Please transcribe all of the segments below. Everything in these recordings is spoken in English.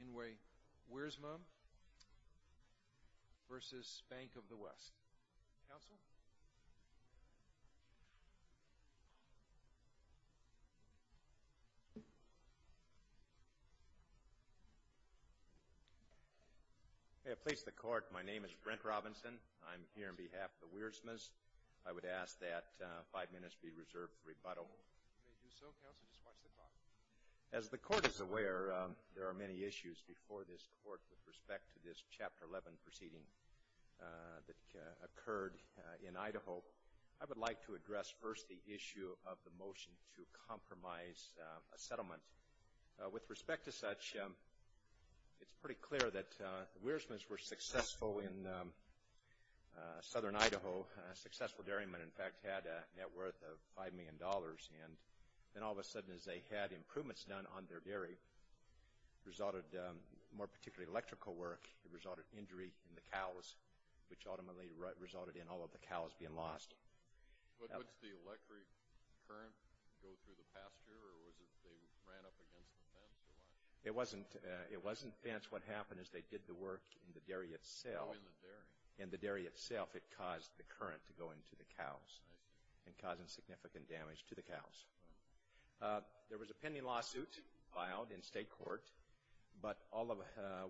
Inway, Wiersma v. Bank of the West, counsel. May I please the court. My name is Brent Robinson. I'm here on behalf of the Wiersmas. I would ask that five minutes be reserved for rebuttal. You may do so, counsel. Just watch the clock. As the court is aware, there are many issues before this court with respect to this Chapter 11 proceeding that occurred in Idaho. I would like to address first the issue of the motion to compromise a settlement. With respect to such, it's pretty clear that the Wiersmas were successful in southern Idaho. A successful dairyman, in fact, had a net worth of $5 million. And then all of a sudden, as they had improvements done on their dairy, it resulted, more particularly electrical work, it resulted in injury in the cows, which ultimately resulted in all of the cows being lost. Would the electric current go through the pasture, or was it they ran up against the fence? It wasn't fence. What happened is they did the work in the dairy itself. Oh, in the dairy. In the dairy itself, it caused the current to go into the cows. I see. And causing significant damage to the cows. There was a pending lawsuit filed in state court, but all of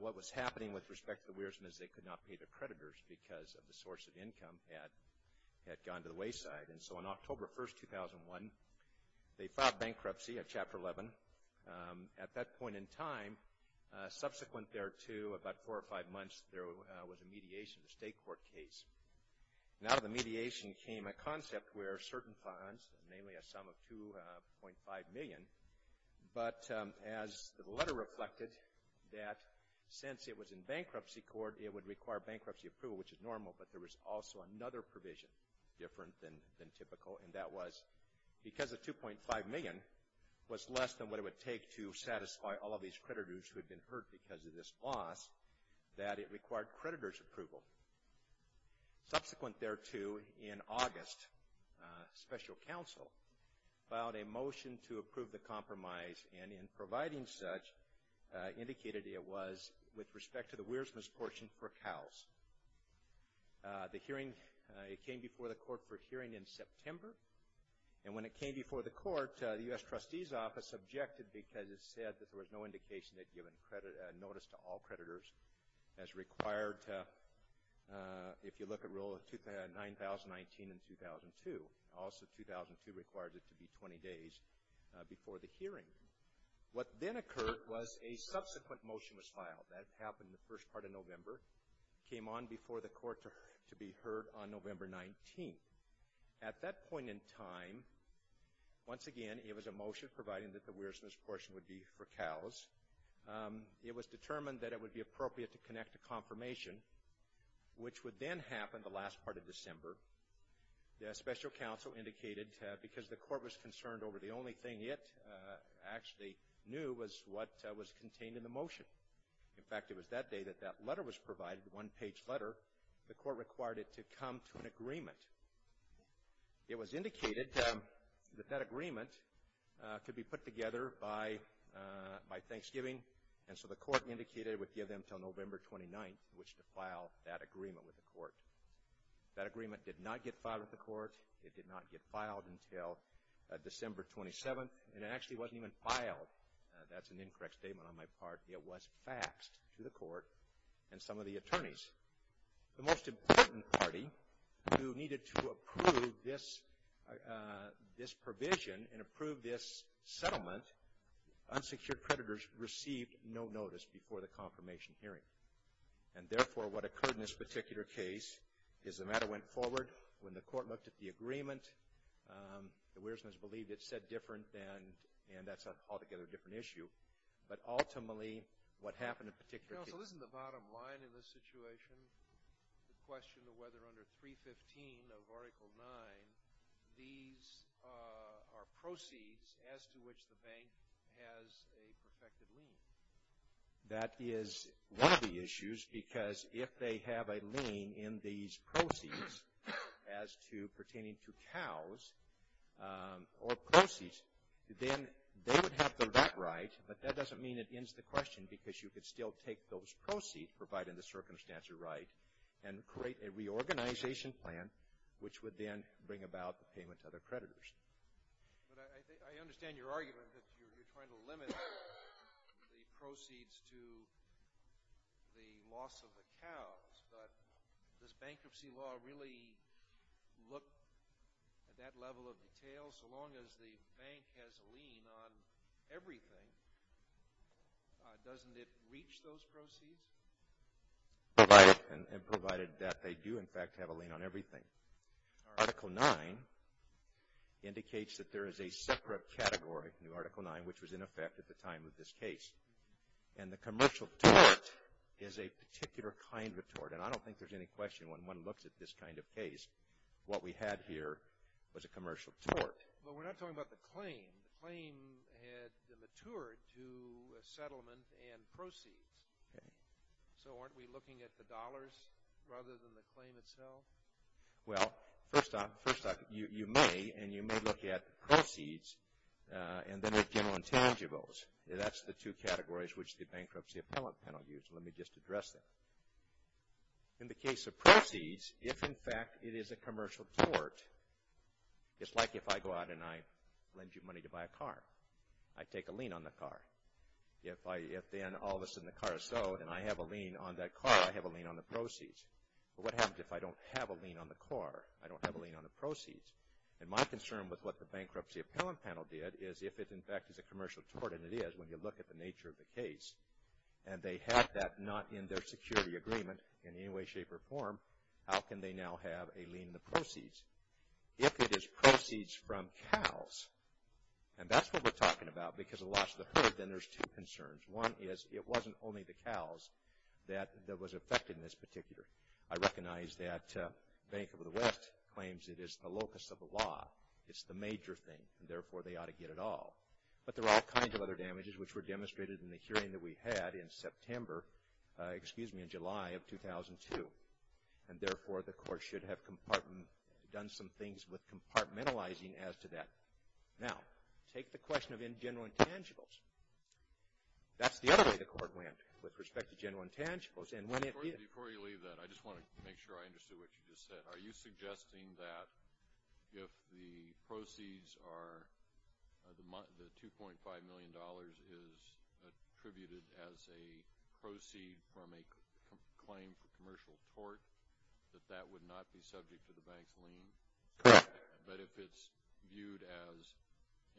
what was happening with respect to the Wiersmas is they could not pay their creditors because of the source of income had gone to the wayside. And so on October 1, 2001, they filed bankruptcy of Chapter 11. At that point in time, subsequent there to about four or five months, there was a mediation of the state court case. And out of the mediation came a concept where certain funds, namely a sum of 2.5 million, but as the letter reflected, that since it was in bankruptcy court, it would require bankruptcy approval, which is normal, but there was also another provision, different than typical, and that was because the 2.5 million was less than what it would take to satisfy all of these creditors who had been hurt because of this loss, that it required creditors' approval. Subsequent there to in August, special counsel filed a motion to approve the compromise and in providing such, indicated it was with respect to the Wiersmas portion for cows. The hearing, it came before the court for hearing in September. And when it came before the court, the U.S. Trustee's Office objected because it said that there was no indication that giving notice to all creditors as required to, if you look at Rule 9019 and 2002, also 2002 requires it to be 20 days before the hearing. What then occurred was a subsequent motion was filed. That happened in the first part of November. Came on before the court to be heard on November 19th. At that point in time, once again, it was a motion providing that the Wiersmas portion would be for cows. It was determined that it would be appropriate to connect a confirmation, which would then happen the last part of December. The special counsel indicated, because the court was concerned over the only thing it actually knew was what was contained in the motion. In fact, it was that day that that letter was provided, the one-page letter. The court required it to come to an agreement. It was indicated that that agreement could be put together by Thanksgiving. And so the court indicated it would give them until November 29th, which to file that agreement with the court. That agreement did not get filed with the court. It did not get filed until December 27th. And it actually wasn't even filed. That's an incorrect statement on my part. The most important party who needed to approve this provision and approve this settlement, unsecured predators received no notice before the confirmation hearing. And therefore, what occurred in this particular case is the matter went forward. When the court looked at the agreement, the Wiersmas believed it said different and that's an altogether different issue. But ultimately, what happened in particular case... So isn't the bottom line in this situation the question of whether under 315 of Article 9 these are proceeds as to which the bank has a perfected lien? That is one of the issues because if they have a lien in these proceeds as to pertaining to cows or proceeds, then they would have the right, but that doesn't mean it ends the question because you could still take those proceeds provided the circumstances are right and create a reorganization plan which would then bring about the payment to other creditors. But I understand your argument that you're trying to limit the proceeds to the loss of the cows, but does bankruptcy law really look at that level of detail? Well, so long as the bank has a lien on everything, doesn't it reach those proceeds? Provided that they do, in fact, have a lien on everything. Article 9 indicates that there is a separate category in Article 9 which was in effect at the time of this case. And the commercial tort is a particular kind of tort. And I don't think there's any question when one looks at this kind of case, what we had here was a commercial tort. But we're not talking about the claim. The claim had matured to a settlement and proceeds. Okay. So, aren't we looking at the dollars rather than the claim itself? Well, first off, you may, and you may look at proceeds and then at general intangibles. That's the two categories which the bankruptcy appellate panel used. Let me just address that. In the case of proceeds, if, in fact, it is a commercial tort, it's like if I go out and I lend you money to buy a car. I take a lien on the car. If then all of a sudden the car is sold and I have a lien on that car, I have a lien on the proceeds. But what happens if I don't have a lien on the car? I don't have a lien on the proceeds. And my concern with what the bankruptcy appellate panel did is if it, in fact, is a commercial tort, and it is when you look at the nature of the case, and they had that not in their security agreement in any way, shape, or form, how can they now have a lien on the proceeds? If it is proceeds from cows, and that's what we're talking about because of the loss of the herd, then there's two concerns. One is it wasn't only the cows that was affected in this particular. I recognize that Bank of the West claims it is the locus of the law. It's the major thing. And, therefore, they ought to get it all. But there are all kinds of other damages which were demonstrated in the hearing that we had in September, excuse me, in July of 2002. And, therefore, the court should have done some things with compartmentalizing as to that. Now, take the question of general intangibles. That's the other way the court went with respect to general intangibles. And when it is. Before you leave that, I just want to make sure I understood what you just said. Are you suggesting that if the proceeds are the $2.5 million is attributed as a proceed from a claim for commercial tort, that that would not be subject to the bank's lien? Correct. But if it's viewed as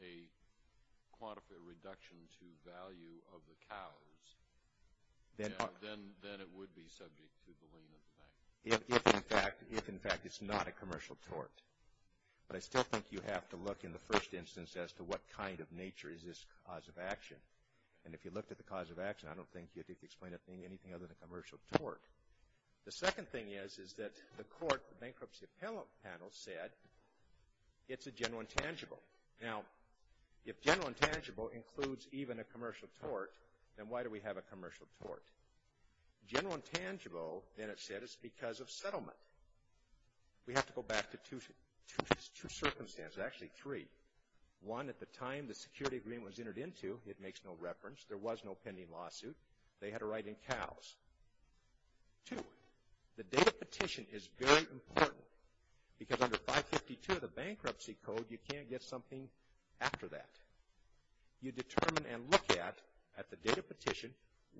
a quantified reduction to value of the cows, then it would be subject to the lien of the bank? If, in fact, it's not a commercial tort. But I still think you have to look in the first instance as to what kind of nature is this cause of action. And if you looked at the cause of action, I don't think you could explain anything other than commercial tort. The second thing is, is that the court bankruptcy panel said it's a general intangible. Now, if general intangible includes even a commercial tort, then why do we have a commercial tort? General intangible, then it said, is because of settlement. We have to go back to two circumstances. Actually, three. One, at the time the security agreement was entered into, it makes no reference. There was no pending lawsuit. They had a right in cows. Two, the date of petition is very important. Because under 552 of the bankruptcy code, you can't get something after that. You determine and look at, at the date of petition,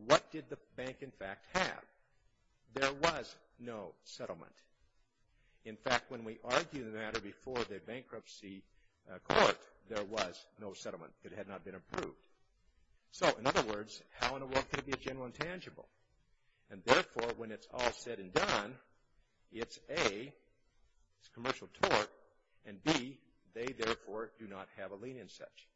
what did the bank, in fact, have. There was no settlement. In fact, when we argued the matter before the bankruptcy court, there was no settlement. It had not been approved. So, in other words, how in the world could it be a general intangible? And, therefore, when it's all said and done, it's A, it's commercial tort, and B, they, therefore, do not have a lien in such.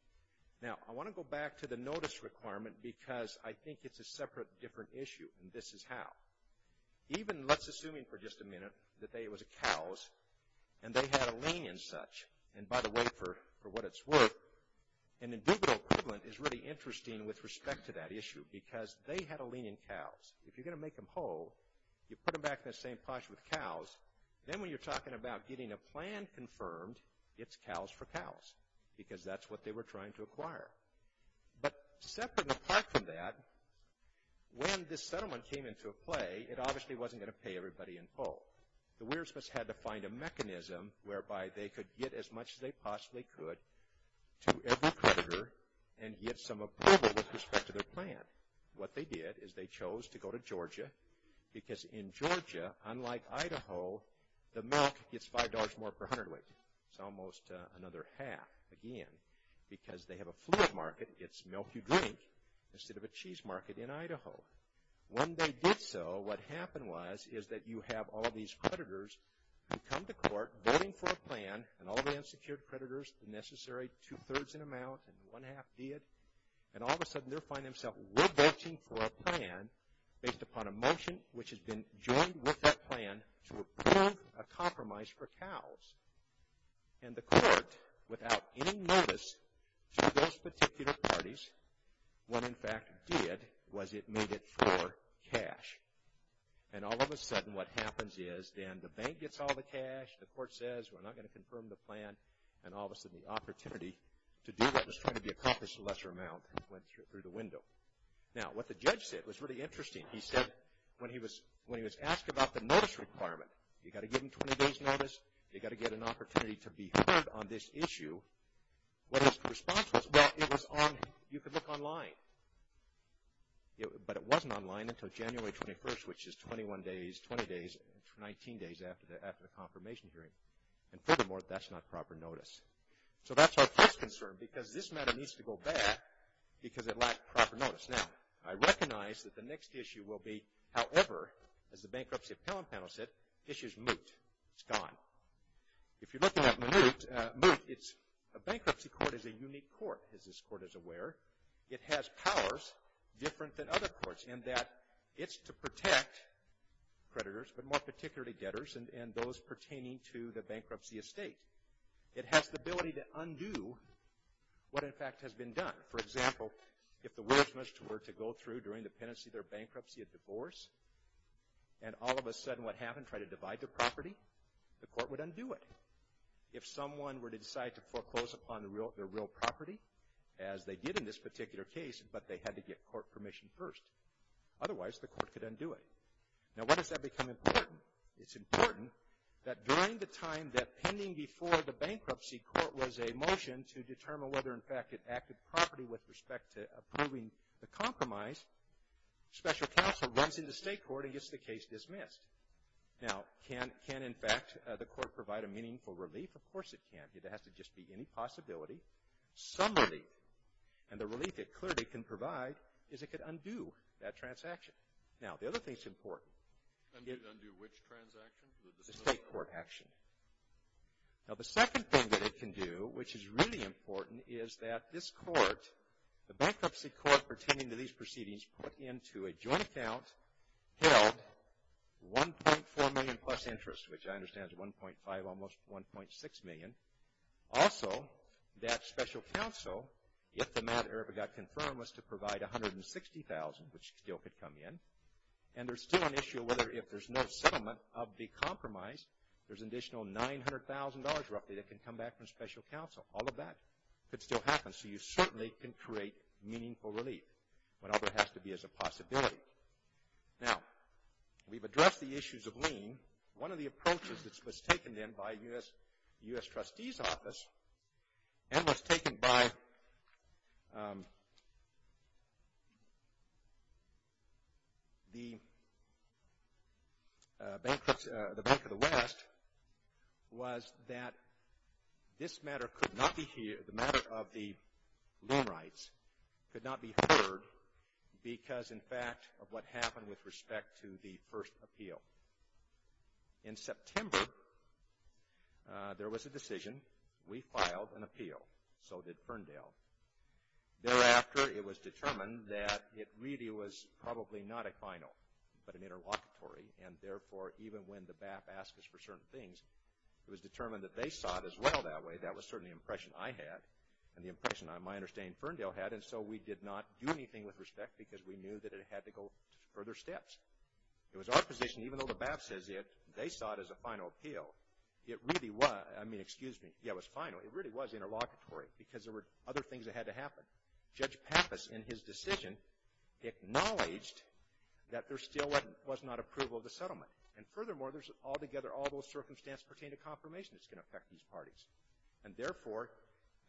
Now, I want to go back to the notice requirement because I think it's a separate, different issue, and this is how. Even, let's assume for just a minute, that it was cows, and they had a lien in such. And, by the way, for what it's worth, an integral equivalent is really interesting with respect to that issue because they had a lien in cows. If you're going to make them whole, you put them back in the same posh with cows. Then, when you're talking about getting a plan confirmed, it's cows for cows because that's what they were trying to acquire. But, separate and apart from that, when this settlement came into play, it obviously wasn't going to pay everybody in full. The weirsmiths had to find a mechanism whereby they could get as much as they possibly could to every creditor and get some approval with respect to their plan. But, what they did is they chose to go to Georgia because, in Georgia, unlike Idaho, the milk gets $5 more per hundredweight. It's almost another half, again, because they have a fluid market. It's milk you drink instead of a cheese market in Idaho. When they did so, what happened was is that you have all these creditors who come to court, voting for a plan, and all the unsecured creditors, the necessary two-thirds in amount, and one-half did. And, all of a sudden, they find themselves re-voting for a plan based upon a motion which has been joined with that plan to approve a compromise for cows. And, the court, without any notice to those particular parties, what, in fact, did was it made it for cash. And, all of a sudden, what happens is then the bank gets all the cash, the court says we're not going to confirm the plan, and all of a sudden the opportunity to do what was trying to be accomplished in a lesser amount went through the window. Now, what the judge said was really interesting. He said when he was asked about the notice requirement, you've got to give them 20 days' notice, you've got to get an opportunity to be heard on this issue, what his response was, well, it was on, you could look online. But, it wasn't online until January 21st, which is 21 days, 20 days, 19 days after the confirmation hearing. And, furthermore, that's not proper notice. So, that's our first concern because this matter needs to go back because it lacked proper notice. Now, I recognize that the next issue will be, however, as the bankruptcy appellant panel said, issues moot. It's gone. If you're looking at moot, a bankruptcy court is a unique court, as this court is aware. It has powers different than other courts in that it's to protect creditors, but more particularly debtors, and those pertaining to the bankruptcy estate. It has the ability to undo what, in fact, has been done. For example, if the wills were to go through during the pendency of their bankruptcy, a divorce, and all of a sudden what happened, tried to divide their property, the court would undo it. If someone were to decide to foreclose upon their real property, as they did in this particular case, but they had to get court permission first, otherwise the court could undo it. Now, when does that become important? It's important that during the time that pending before the bankruptcy court was a motion to determine whether, in fact, it acted properly with respect to approving the compromise, special counsel runs into state court and gets the case dismissed. Now, can, in fact, the court provide a meaningful relief? Of course it can. It has to just be any possibility, some relief. And the relief it clearly can provide is it could undo that transaction. Now, the other thing that's important. Undo which transaction? The state court action. Now, the second thing that it can do, which is really important, is that this court, the bankruptcy court pertaining to these proceedings, put into a joint account held 1.4 million plus interest, which I understand is 1.5, almost 1.6 million. Also, that special counsel, if the matter ever got confirmed, was to provide 160,000, which still could come in. And there's still an issue whether if there's no settlement of the compromise, there's an additional $900,000 roughly that can come back from special counsel. All of that could still happen. So, you certainly can create meaningful relief whenever it has to be as a possibility. One of the approaches that was taken then by the U.S. Trustee's Office, and was taken by the Bank of the West, was that this matter could not be, the matter of the loan rights, could not be heard because, in fact, of what happened with respect to the first appeal. In September, there was a decision. We filed an appeal. So did Ferndale. Thereafter, it was determined that it really was probably not a final, but an interlocutory. And therefore, even when the BAP asks us for certain things, it was determined that they saw it as well that way. That was certainly the impression I had and the impression, my understanding, Ferndale had. And so we did not do anything with respect because we knew that it had to go further steps. It was our position, even though the BAP says they saw it as a final appeal, it really was. I mean, excuse me. Yeah, it was final. It really was interlocutory because there were other things that had to happen. Judge Pappas, in his decision, acknowledged that there still was not approval of the settlement. And furthermore, there's altogether all those circumstances pertaining to confirmation that's going to affect these parties. And therefore,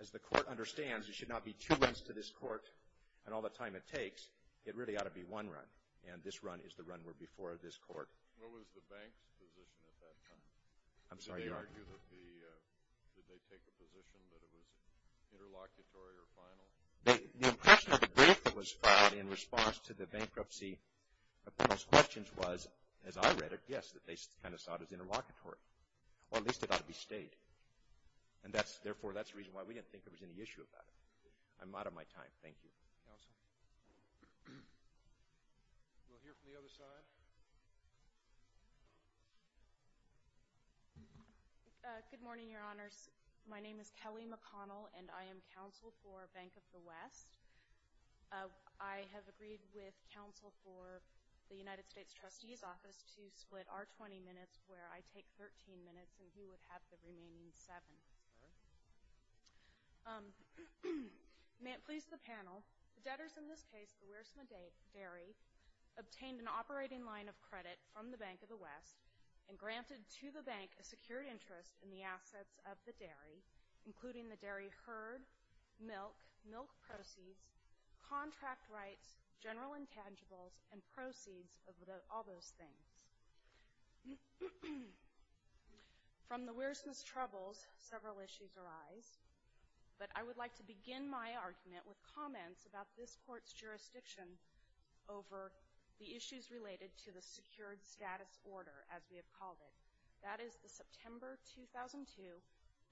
as the court understands, it should not be two runs to this court and all the time it takes. It really ought to be one run. And this run is the run we're before this court. What was the bank's position at that time? I'm sorry, your Honor. Did they take a position that it was interlocutory or final? The impression of the brief that was filed in response to the bankruptcy appeals questions was, as I read it, yes, that they kind of saw it as interlocutory, or at least it ought to be stayed. And therefore, that's the reason why we didn't think there was any issue about it. I'm out of my time. Thank you. Counsel? We'll hear from the other side. Good morning, your Honors. My name is Kelly McConnell, and I am counsel for Bank of the West. I have agreed with counsel for the United States Trustee's Office to split our 20 minutes where I take 13 minutes, and he would have the remaining seven. May it please the panel, the debtors in this case, the Weirsmann Dairy, obtained an operating line of credit from the Bank of the West and granted to the bank a secured interest in the assets of the dairy, including the dairy herd, milk, milk proceeds, contract rights, general intangibles, and proceeds of all those things. From the Weirsmann's troubles, several issues arise, but I would like to begin my argument with comments about this Court's jurisdiction over the issues related to the secured status order, as we have called it. That is the September 2002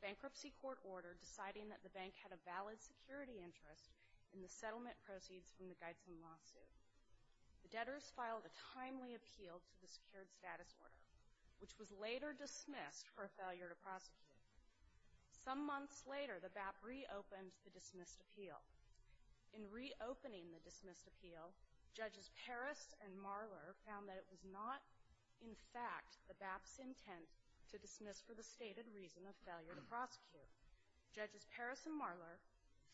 bankruptcy court order deciding that the bank had a valid security interest in the settlement proceeds from the Geithson lawsuit. The debtors filed a timely appeal to the secured status order, which was later dismissed for failure to prosecute. Some months later, the BAP reopened the dismissed appeal. In reopening the dismissed appeal, Judges Parris and Marler found that it was not, in fact, the BAP's intent to dismiss for the stated reason of failure to prosecute. Judges Parris and Marler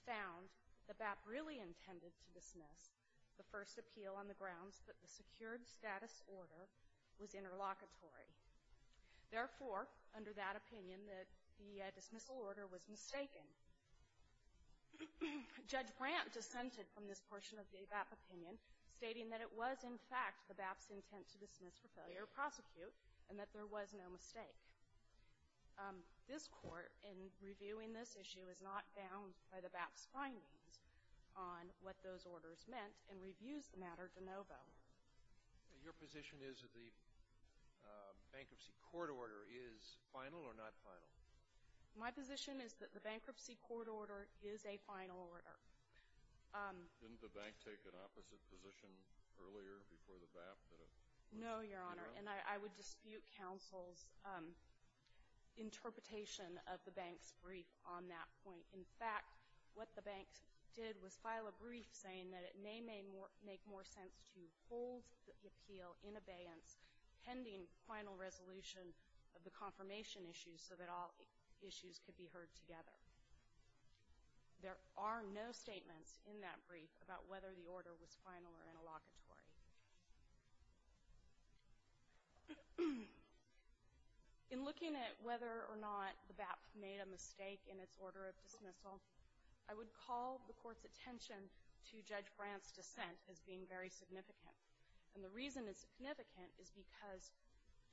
found the BAP really intended to dismiss the first appeal on the grounds that the secured status order was interlocutory. Therefore, under that opinion, the dismissal order was mistaken. Judge Grant dissented from this portion of the BAP opinion, stating that it was, in fact, the BAP's intent to dismiss for failure to prosecute and that there was no mistake. This Court, in reviewing this issue, is not bound by the BAP's findings on what those orders meant and reviews the matter de novo. Your position is that the bankruptcy court order is final or not final? My position is that the bankruptcy court order is a final order. Didn't the bank take an opposite position earlier before the BAP? No, Your Honor. And I would dispute counsel's interpretation of the bank's brief on that point. In fact, what the bank did was file a brief saying that it may make more sense to hold the appeal in abeyance pending final resolution of the confirmation issue so that all issues could be heard together. There are no statements in that brief about whether the order was final or interlocutory. In looking at whether or not the BAP made a mistake in its order of dismissal, I would call the Court's attention to Judge Grant's dissent as being very significant. And the reason it's significant is because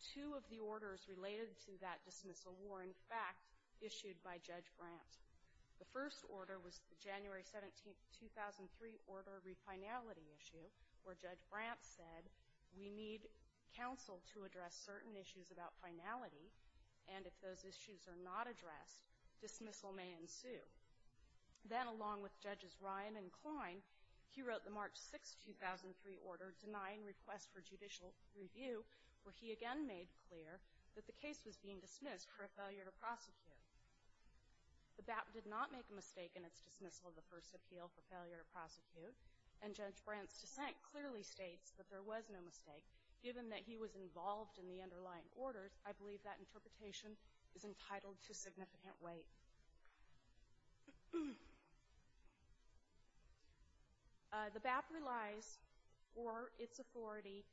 two of the orders related to that dismissal were, in fact, issued by Judge Grant. The first order was the January 17, 2003, order of refinality issue, where Judge Grant said we need counsel to address certain issues about finality, and if those issues are not addressed, dismissal may ensue. Then along with Judges Ryan and Klein, he wrote the March 6, 2003, order denying request for judicial review, where he again made clear that the case was being dismissed for a failure to prosecute. The BAP did not make a mistake in its dismissal of the first appeal for failure to prosecute, and Judge Grant's dissent clearly states that there was no mistake, given that he was involved in the underlying orders. I believe that interpretation is entitled to significant weight. The BAP relies for its authority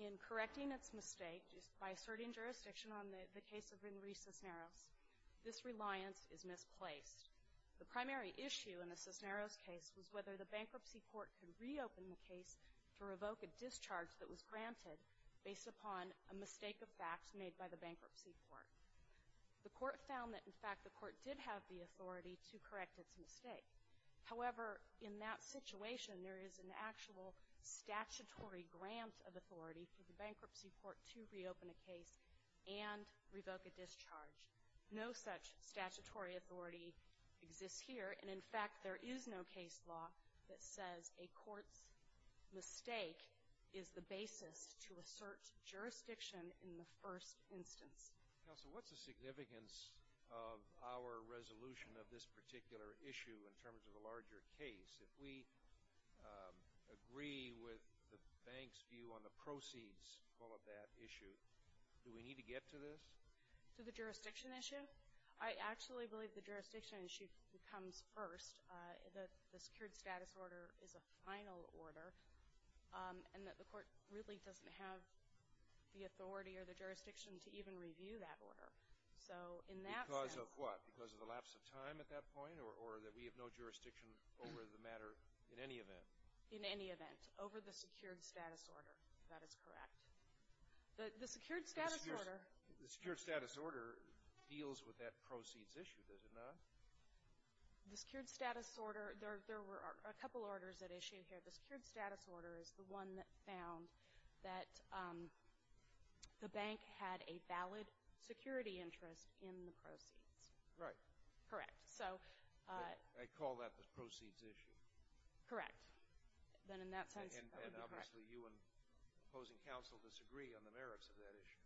in correcting its mistake by asserting jurisdiction on the case of Inri Cisneros. This reliance is misplaced. The primary issue in the Cisneros case was whether the bankruptcy court could reopen the case to revoke a discharge that was granted based upon a mistake of facts made by the bankruptcy court. The court found that, in fact, the court did have the authority to correct its mistake. However, in that situation, there is an actual statutory grant of authority for the bankruptcy court to reopen a case and revoke a discharge. No such statutory authority exists here, and, in fact, there is no case law that says a court's mistake is the basis to assert jurisdiction in the first instance. Counsel, what's the significance of our resolution of this particular issue in terms of the larger case? If we agree with the bank's view on the proceeds for that issue, do we need to get to this? To the jurisdiction issue? I actually believe the jurisdiction issue comes first. The secured status order is a final order, and that the court really doesn't have the authority or the jurisdiction to even review that order. So in that sense — Because of what? Because of the lapse of time at that point, or that we have no jurisdiction over the matter in any event? In any event. Over the secured status order. That is correct. The secured status order — Does it not? The secured status order — there were a couple orders at issue here. The secured status order is the one that found that the bank had a valid security interest in the proceeds. Right. Correct. So — I call that the proceeds issue. Correct. Then in that sense, that would be correct. And obviously you and opposing counsel disagree on the merits of that issue.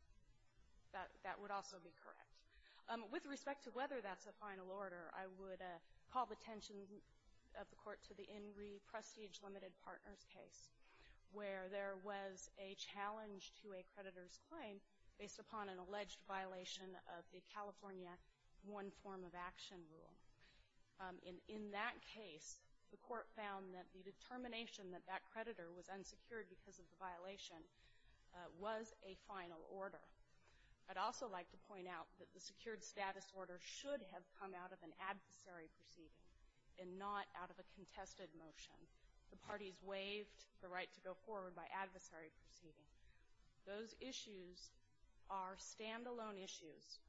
That would also be correct. With respect to whether that's a final order, I would call the attention of the court to the Ingrie Prestige Limited Partners case, where there was a challenge to a creditor's claim based upon an alleged violation of the California One Form of Action rule. In that case, the court found that the determination that that creditor was unsecured because of the violation was a final order. I'd also like to point out that the secured status order should have come out of an adversary proceeding and not out of a contested motion. The parties waived the right to go forward by adversary proceeding. Those issues are standalone issues.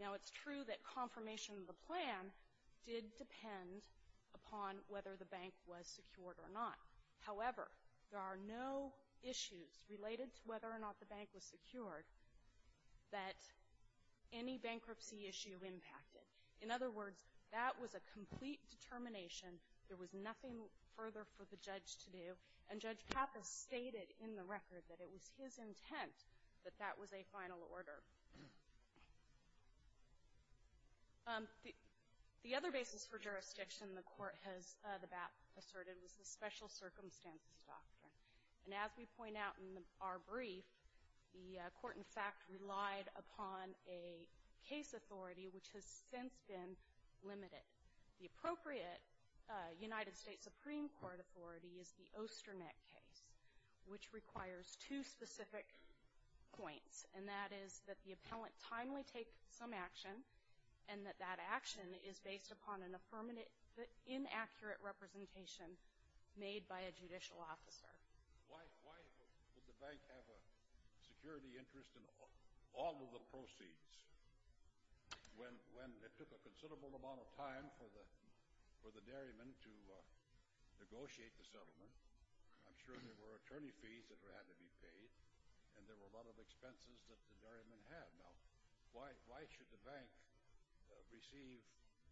Now, it's true that confirmation of the plan did depend upon whether the bank was secured or not. However, there are no issues related to whether or not the bank was secured that any bankruptcy issue impacted. In other words, that was a complete determination. There was nothing further for the judge to do. And Judge Pappas stated in the record that it was his intent that that was a final order. The other basis for jurisdiction the court has asserted was the special circumstances doctrine. And as we point out in our brief, the court, in fact, relied upon a case authority, which has since been limited. The appropriate United States Supreme Court authority is the Osternet case, which requires two specific points, and that is that the appellant timely take some action and that that action is based upon an affirmative but inaccurate representation made by a judicial officer. Why would the bank have a security interest in all of the proceeds when it took a considerable amount of time for the dairyman to negotiate the settlement? I'm sure there were attorney fees that had to be paid, and there were a lot of expenses that the dairyman had. Now, why should the bank receive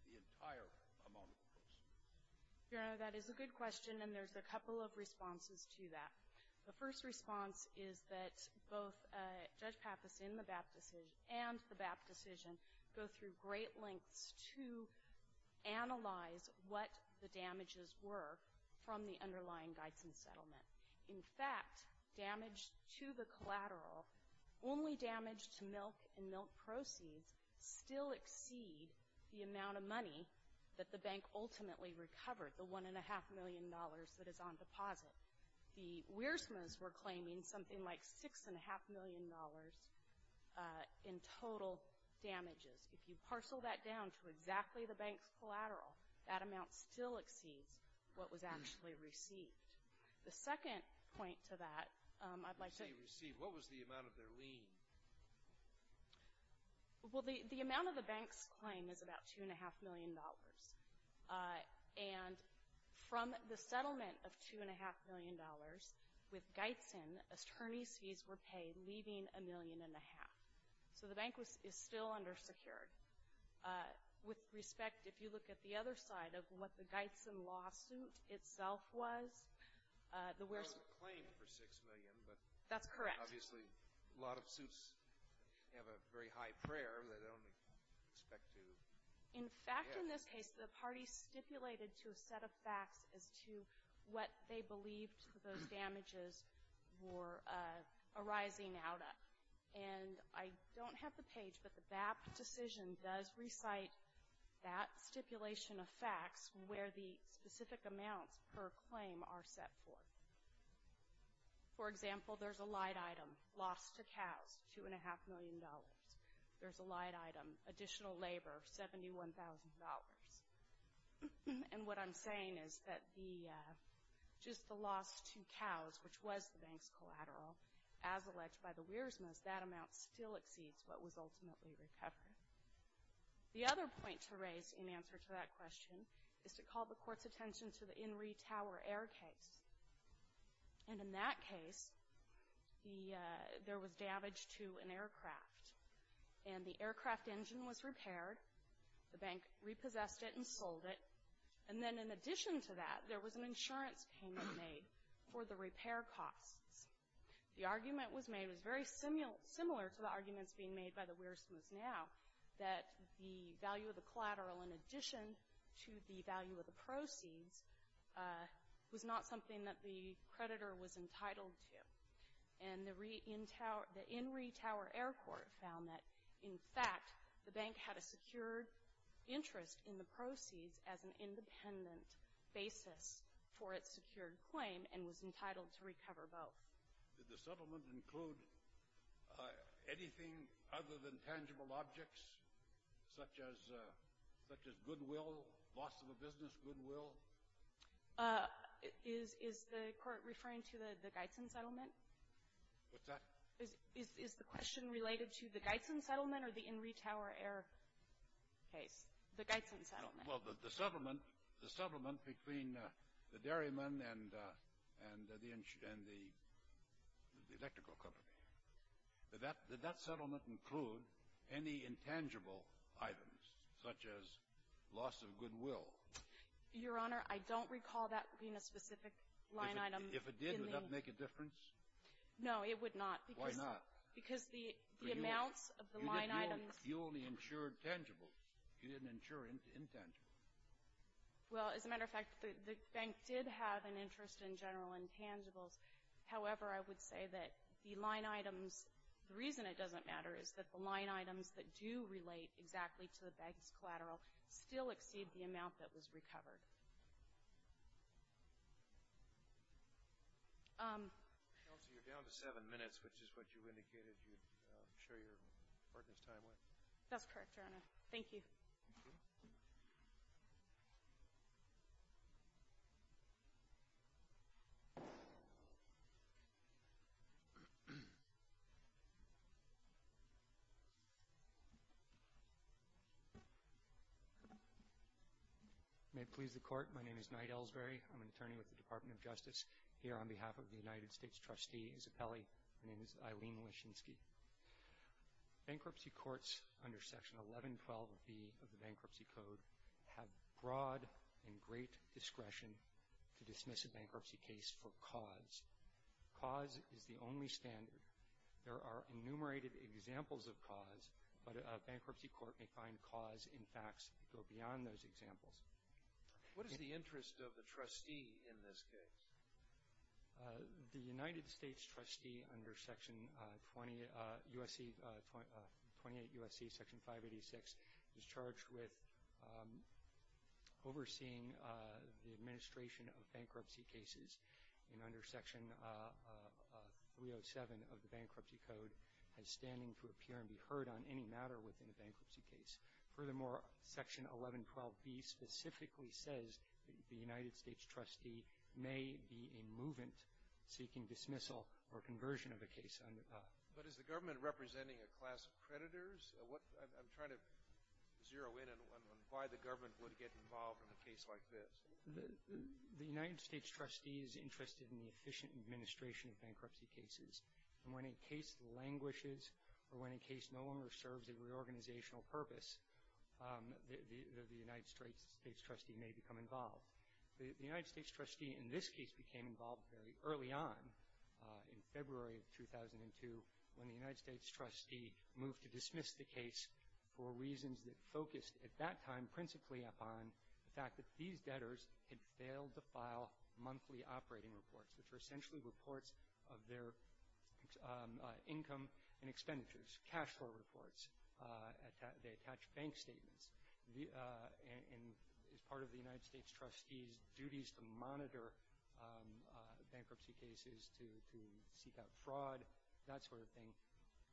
the entire amount of proceeds? Your Honor, that is a good question, and there's a couple of responses to that. The first response is that both Judge Pappas and the BAP decision go through great lengths to analyze what the damages were from the underlying guides and settlement. In fact, damage to the collateral, only damage to milk and milk proceeds, still exceed the amount of money that the bank ultimately recovered, the $1.5 million that is on deposit. The Weersmans were claiming something like $6.5 million in total damages. If you parcel that down to exactly the bank's collateral, that amount still exceeds what was actually received. The second point to that, I'd like to – Receive, receive. What was the amount of their lien? Well, the amount of the bank's claim is about $2.5 million, and from the settlement of $2.5 million with Geitzen, attorney's fees were paid, leaving $1.5 million. So the bank is still undersecured. With respect, if you look at the other side of what the Geitzen lawsuit itself was, the Weersmans – It was a claim for $6 million, but – That's correct. Obviously, a lot of suits have a very high prayer that they only expect to – In fact, in this case, the parties stipulated to a set of facts as to what they believed those damages were arising out of. And I don't have the page, but the BAP decision does recite that stipulation of facts where the specific amounts per claim are set for. For example, there's a light item, loss to cows, $2.5 million. There's a light item, additional labor, $71,000. And what I'm saying is that just the loss to cows, which was the bank's collateral, as alleged by the Weersmans, that amount still exceeds what was ultimately recovered. The other point to raise in answer to that question is to call the court's attention to the Inree Tower Air case. And in that case, there was damage to an aircraft, and the aircraft engine was repaired. The bank repossessed it and sold it. And then in addition to that, there was an insurance payment made for the repair costs. The argument was made, it was very similar to the arguments being made by the Weersmans now, that the value of the collateral in addition to the value of the proceeds was not something that the creditor was entitled to. And the Inree Tower Air Court found that, in fact, the bank had a secured interest in the proceeds as an independent basis for its secured claim and was entitled to recover both. Did the settlement include anything other than tangible objects, such as goodwill, loss of a business goodwill? Is the court referring to the Gietzen settlement? What's that? Is the question related to the Gietzen settlement or the Inree Tower Air case? The Gietzen settlement. Well, the settlement between the dairyman and the electrical company. Did that settlement include any intangible items, such as loss of goodwill? Your Honor, I don't recall that being a specific line item. If it did, would that make a difference? No, it would not. Why not? Because the amounts of the line items — You only insured tangibles. You didn't insure intangibles. Well, as a matter of fact, the bank did have an interest in general intangibles. However, I would say that the line items, the reason it doesn't matter is that the line items that do relate exactly to the bank's collateral still exceed the amount that was recovered. Counsel, you're down to seven minutes, which is what you indicated you'd share your partner's time with. Thank you. May it please the Court, my name is Knight Elsberry. I'm an attorney with the Department of Justice. Here on behalf of the United States trustee, Isabelli, my name is Eileen Lischinski. Bankruptcy courts under Section 1112B of the Bankruptcy Code have broad and great discretion to dismiss a bankruptcy case for cause. Cause is the only standard. There are enumerated examples of cause, but a bankruptcy court may find cause in facts that go beyond those examples. What is the interest of the trustee in this case? The United States trustee under Section 28 U.S.C., Section 586, is charged with overseeing the administration of bankruptcy cases, and under Section 307 of the Bankruptcy Code has standing to appear and be heard on any matter within a bankruptcy case. Furthermore, Section 1112B specifically says the United States trustee may be a movement seeking dismissal or conversion of a case under the law. But is the government representing a class of creditors? I'm trying to zero in on why the government would get involved in a case like this. The United States trustee is interested in the efficient administration of bankruptcy cases. And when a case languishes or when a case no longer serves a reorganizational purpose, the United States trustee may become involved. The United States trustee in this case became involved very early on in February of 2002 when the United States trustee moved to dismiss the case for reasons that focused at that time principally upon the fact that these debtors had failed to file monthly operating reports, which were essentially reports of their income and expenditures, cash flow reports. They attached bank statements. And as part of the United States trustee's duties to monitor bankruptcy cases, to seek out fraud, that sort of thing,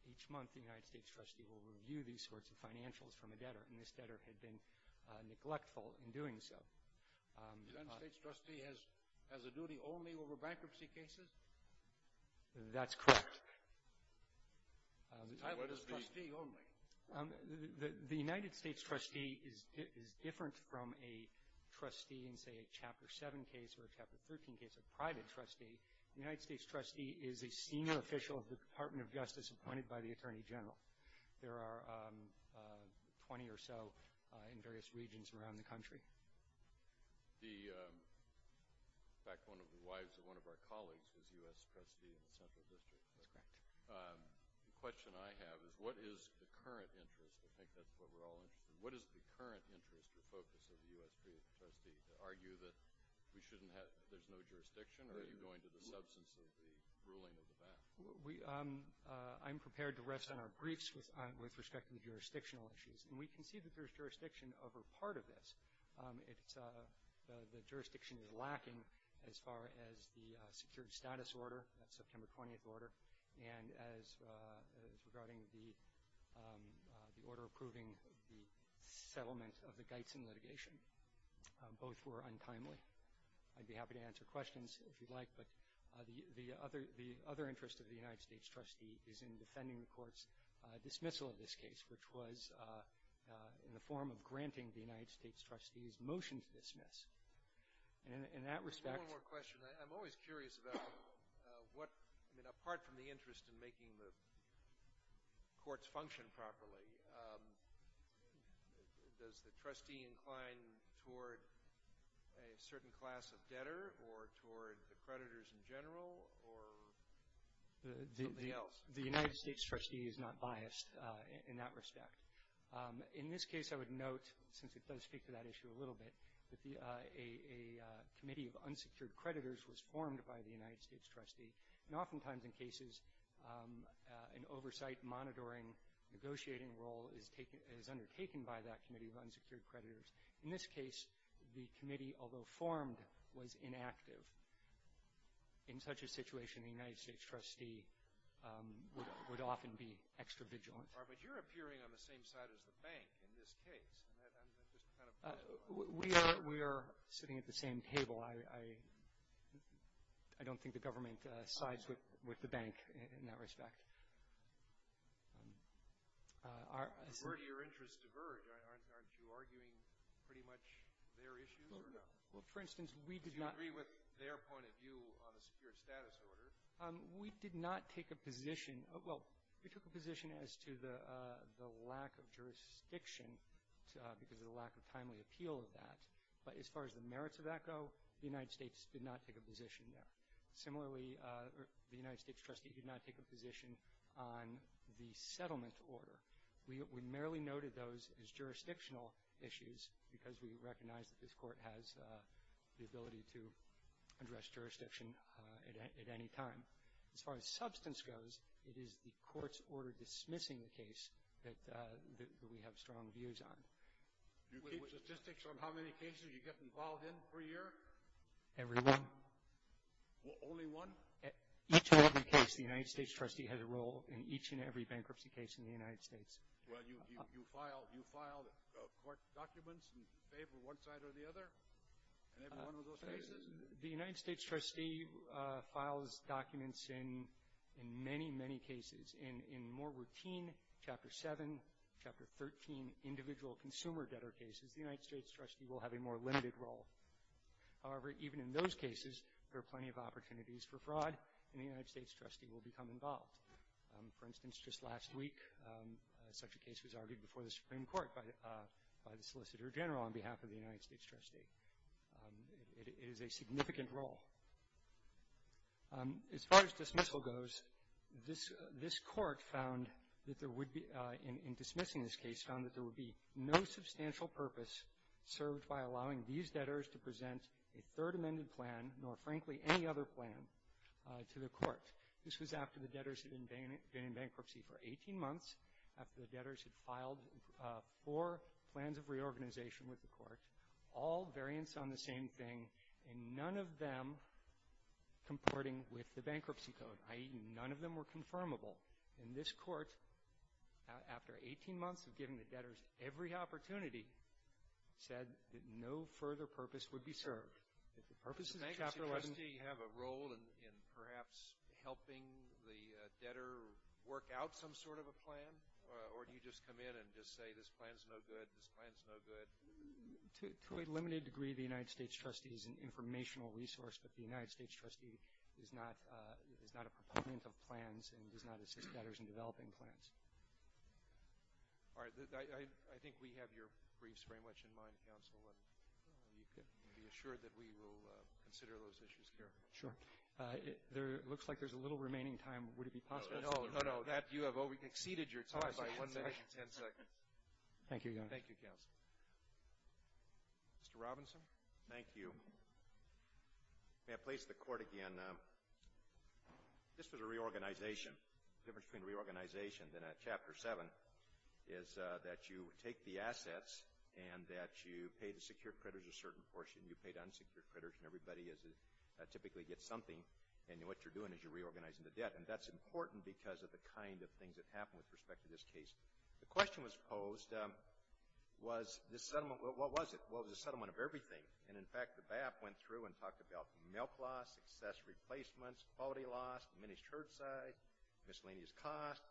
each month the United States trustee will review these sorts of financials from a debtor, and this debtor had been neglectful in doing so. The United States trustee has a duty only over bankruptcy cases? That's correct. What is trustee only? The United States trustee is different from a trustee in, say, a Chapter 7 case or a Chapter 13 case, a private trustee. The United States trustee is a senior official of the Department of Justice appointed by the Attorney General. There are 20 or so in various regions around the country. In fact, one of the wives of one of our colleagues was a U.S. trustee in the Central District. That's correct. The question I have is what is the current interest? I think that's what we're all interested in. What is the current interest or focus of the U.S. trustee to argue that there's no jurisdiction, I'm prepared to rest on our briefs with respect to the jurisdictional issues. And we can see that there's jurisdiction over part of this. The jurisdiction is lacking as far as the secured status order, that September 20th order, and as regarding the order approving the settlement of the Geissen litigation. Both were untimely. I'd be happy to answer questions if you'd like, but the other interest of the United States trustee is in defending the court's dismissal of this case, which was in the form of granting the United States trustee's motion to dismiss. And in that respect. I have one more question. I'm always curious about what, I mean, apart from the interest in making the courts function properly, does the trustee incline toward a certain class of debtor or toward the creditors in general or something else? The United States trustee is not biased in that respect. In this case, I would note, since it does speak to that issue a little bit, that a committee of unsecured creditors was formed by the United States trustee, and oftentimes in cases an oversight monitoring negotiating role is undertaken by that committee of unsecured creditors. In this case, the committee, although formed, was inactive. In such a situation, the United States trustee would often be extra vigilant. But you're appearing on the same side as the bank in this case. We are sitting at the same table. I don't think the government sides with the bank in that respect. Your interests diverge. Aren't you arguing pretty much their issues or not? Well, for instance, we did not. Do you agree with their point of view on a secured status order? We did not take a position. Well, we took a position as to the lack of jurisdiction because of the lack of timely appeal of that. But as far as the merits of that go, the United States did not take a position there. Similarly, the United States trustee did not take a position on the settlement order. We merely noted those as jurisdictional issues because we recognize that this court has the ability to address jurisdiction at any time. As far as substance goes, it is the court's order dismissing the case that we have strong views on. Do you keep statistics on how many cases you get involved in per year? Every one. Only one? Each and every case, the United States trustee has a role in each and every bankruptcy case in the United States. Well, you file court documents in favor of one side or the other in every one of those cases? The United States trustee files documents in many, many cases. In more routine Chapter 7, Chapter 13 individual consumer debtor cases, the United States trustee will have a more limited role. However, even in those cases, there are plenty of opportunities for fraud, and the United States trustee will become involved. For instance, just last week, such a case was argued before the Supreme Court by the Solicitor General on behalf of the United States trustee. It is a significant role. As far as dismissal goes, this court found that there would be, in dismissing this case, found that there would be no substantial purpose served by allowing these debtors to present a third amended plan, nor, frankly, any other plan, to the court. This was after the debtors had been in bankruptcy for 18 months, after the debtors had filed four plans of reorganization with the court, all variants on the same thing, and none of them comporting with the bankruptcy code, i.e., none of them were confirmable. And this court, after 18 months of giving the debtors every opportunity, said that no further purpose would be served. The purpose of Chapter 11 — Does the bankruptcy trustee have a role in perhaps helping the debtor work out some sort of a plan, or do you just come in and just say, this plan's no good, this plan's no good? To a limited degree, the United States trustee is an informational resource, but the United States trustee is not a proponent of plans and does not assist debtors in developing plans. All right. I think we have your briefs very much in mind, Counsel, and you can be assured that we will consider those issues carefully. Sure. It looks like there's a little remaining time. Would it be possible to — No, no, no. Thank you, Your Honor. Thank you, Counsel. Mr. Robinson? Thank you. May I please the Court again? This was a reorganization. The difference between a reorganization and a Chapter 7 is that you take the assets and that you pay the secured creditors a certain portion, you pay the unsecured creditors, and everybody typically gets something, and what you're doing is you're reorganizing the debt. And that's important because of the kind of things that happen with respect to this case. The question was posed, was this settlement — well, what was it? Well, it was a settlement of everything. And, in fact, the BAP went through and talked about milk loss, accessory placements, quality loss, diminished herd size, miscellaneous cost,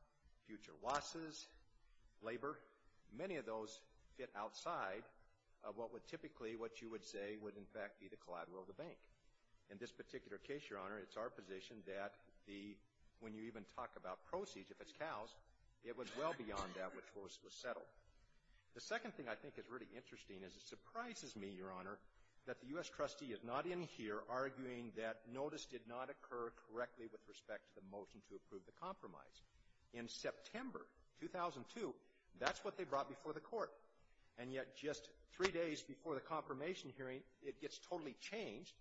future losses, labor. Many of those fit outside of what would typically — what you would say would, in fact, be the collateral of the bank. In this particular case, Your Honor, it's our position that the — when you even talk about proceeds, if it's cows, it was well beyond that which was settled. The second thing I think is really interesting is it surprises me, Your Honor, that the U.S. trustee is not in here arguing that notice did not occur correctly with respect to the motion to approve the compromise. In September 2002, that's what they brought before the Court. And yet just three days before the confirmation hearing, it gets totally changed,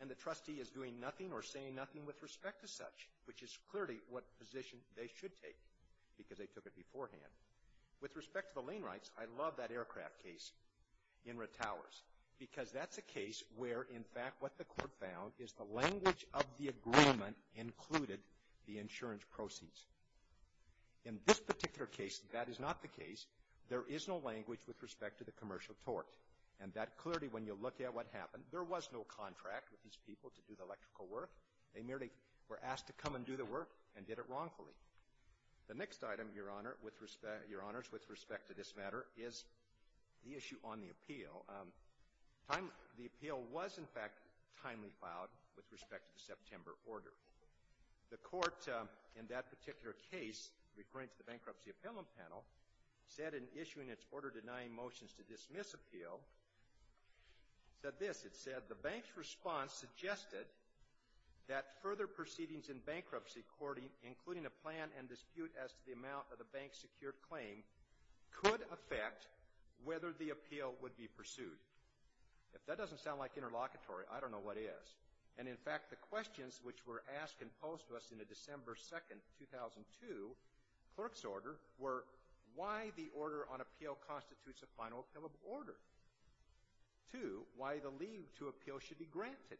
and the trustee is doing nothing or saying nothing with respect to such, which is clearly what position they should take, because they took it beforehand. With respect to the lane rights, I love that aircraft case in Retowers, because that's a case where, in fact, what the Court found is the language of the agreement included the insurance proceeds. In this particular case, that is not the case. There is no language with respect to the commercial torque. And that clearly, when you look at what happened, there was no contract with these people to do the electrical work. They merely were asked to come and do the work and did it wrongfully. The next item, Your Honor, with respect to this matter, is the issue on the appeal. The appeal was, in fact, timely filed with respect to the September order. The Court, in that particular case, referring to the Bankruptcy Appealment Panel, said in issuing its order denying motions to dismiss appeal, said this. It said, the bank's response suggested that further proceedings in bankruptcy, including a plan and dispute as to the amount of the bank's secured claim, could affect whether the appeal would be pursued. If that doesn't sound like interlocutory, I don't know what is. And, in fact, the questions which were asked and posed to us in a December 2, 2002, clerk's order, were why the order on appeal constitutes a final appellate order. Two, why the leave to appeal should be granted.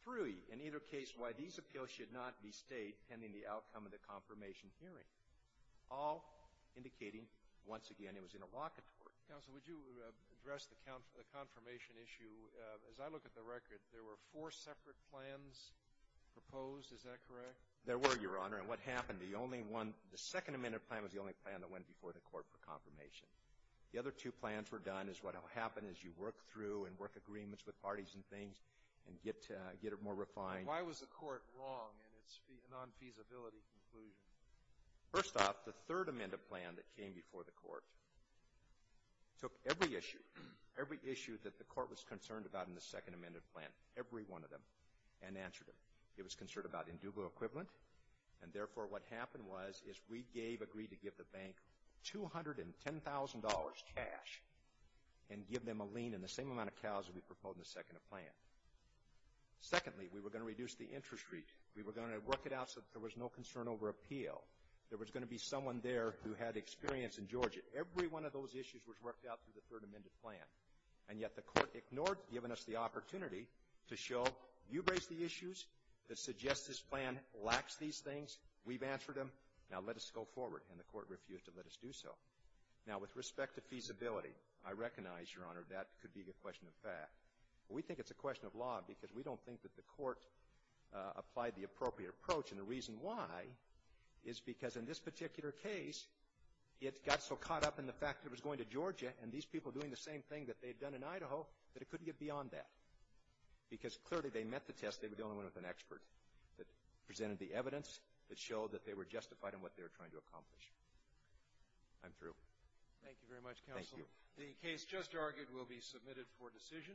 Three, in either case, why these appeals should not be stayed pending the outcome of the confirmation hearing. All indicating, once again, it was interlocutory. Counsel, would you address the confirmation issue? As I look at the record, there were four separate plans proposed. Is that correct? There were, Your Honor. And what happened, the only one, the Second Amendment plan was the only plan that went before the Court for confirmation. The other two plans were done as what will happen as you work through and work agreements with parties and things and get it more refined. Why was the Court wrong in its non-feasibility conclusion? First off, the Third Amendment plan that came before the Court took every issue, every issue that the Court was concerned about in the Second Amendment plan, every one of them, and answered it. It was concerned about indubitable equivalent. And, therefore, what happened was is we gave, agreed to give the bank $210,000 cash and give them a lien in the same amount of cows that we proposed in the Second Amendment plan. Secondly, we were going to reduce the interest rate. We were going to work it out so that there was no concern over appeal. There was going to be someone there who had experience in Georgia. Every one of those issues was worked out through the Third Amendment plan. And yet the Court ignored giving us the opportunity to show, you raised the issues that suggest this plan lacks these things. We've answered them. Now, let us go forward. And the Court refused to let us do so. Now, with respect to feasibility, I recognize, Your Honor, that could be a question of fact. We think it's a question of law because we don't think that the Court applied the appropriate approach. And the reason why is because in this particular case, it got so caught up in the fact that it was going to Georgia and these people doing the same thing that they had done in Idaho that it couldn't get beyond that. Because clearly they met the test. They were dealing with an expert that presented the evidence that showed that they were justified in what they were trying to accomplish. I'm through. Thank you very much, Counselor. The case just argued will be submitted for decision.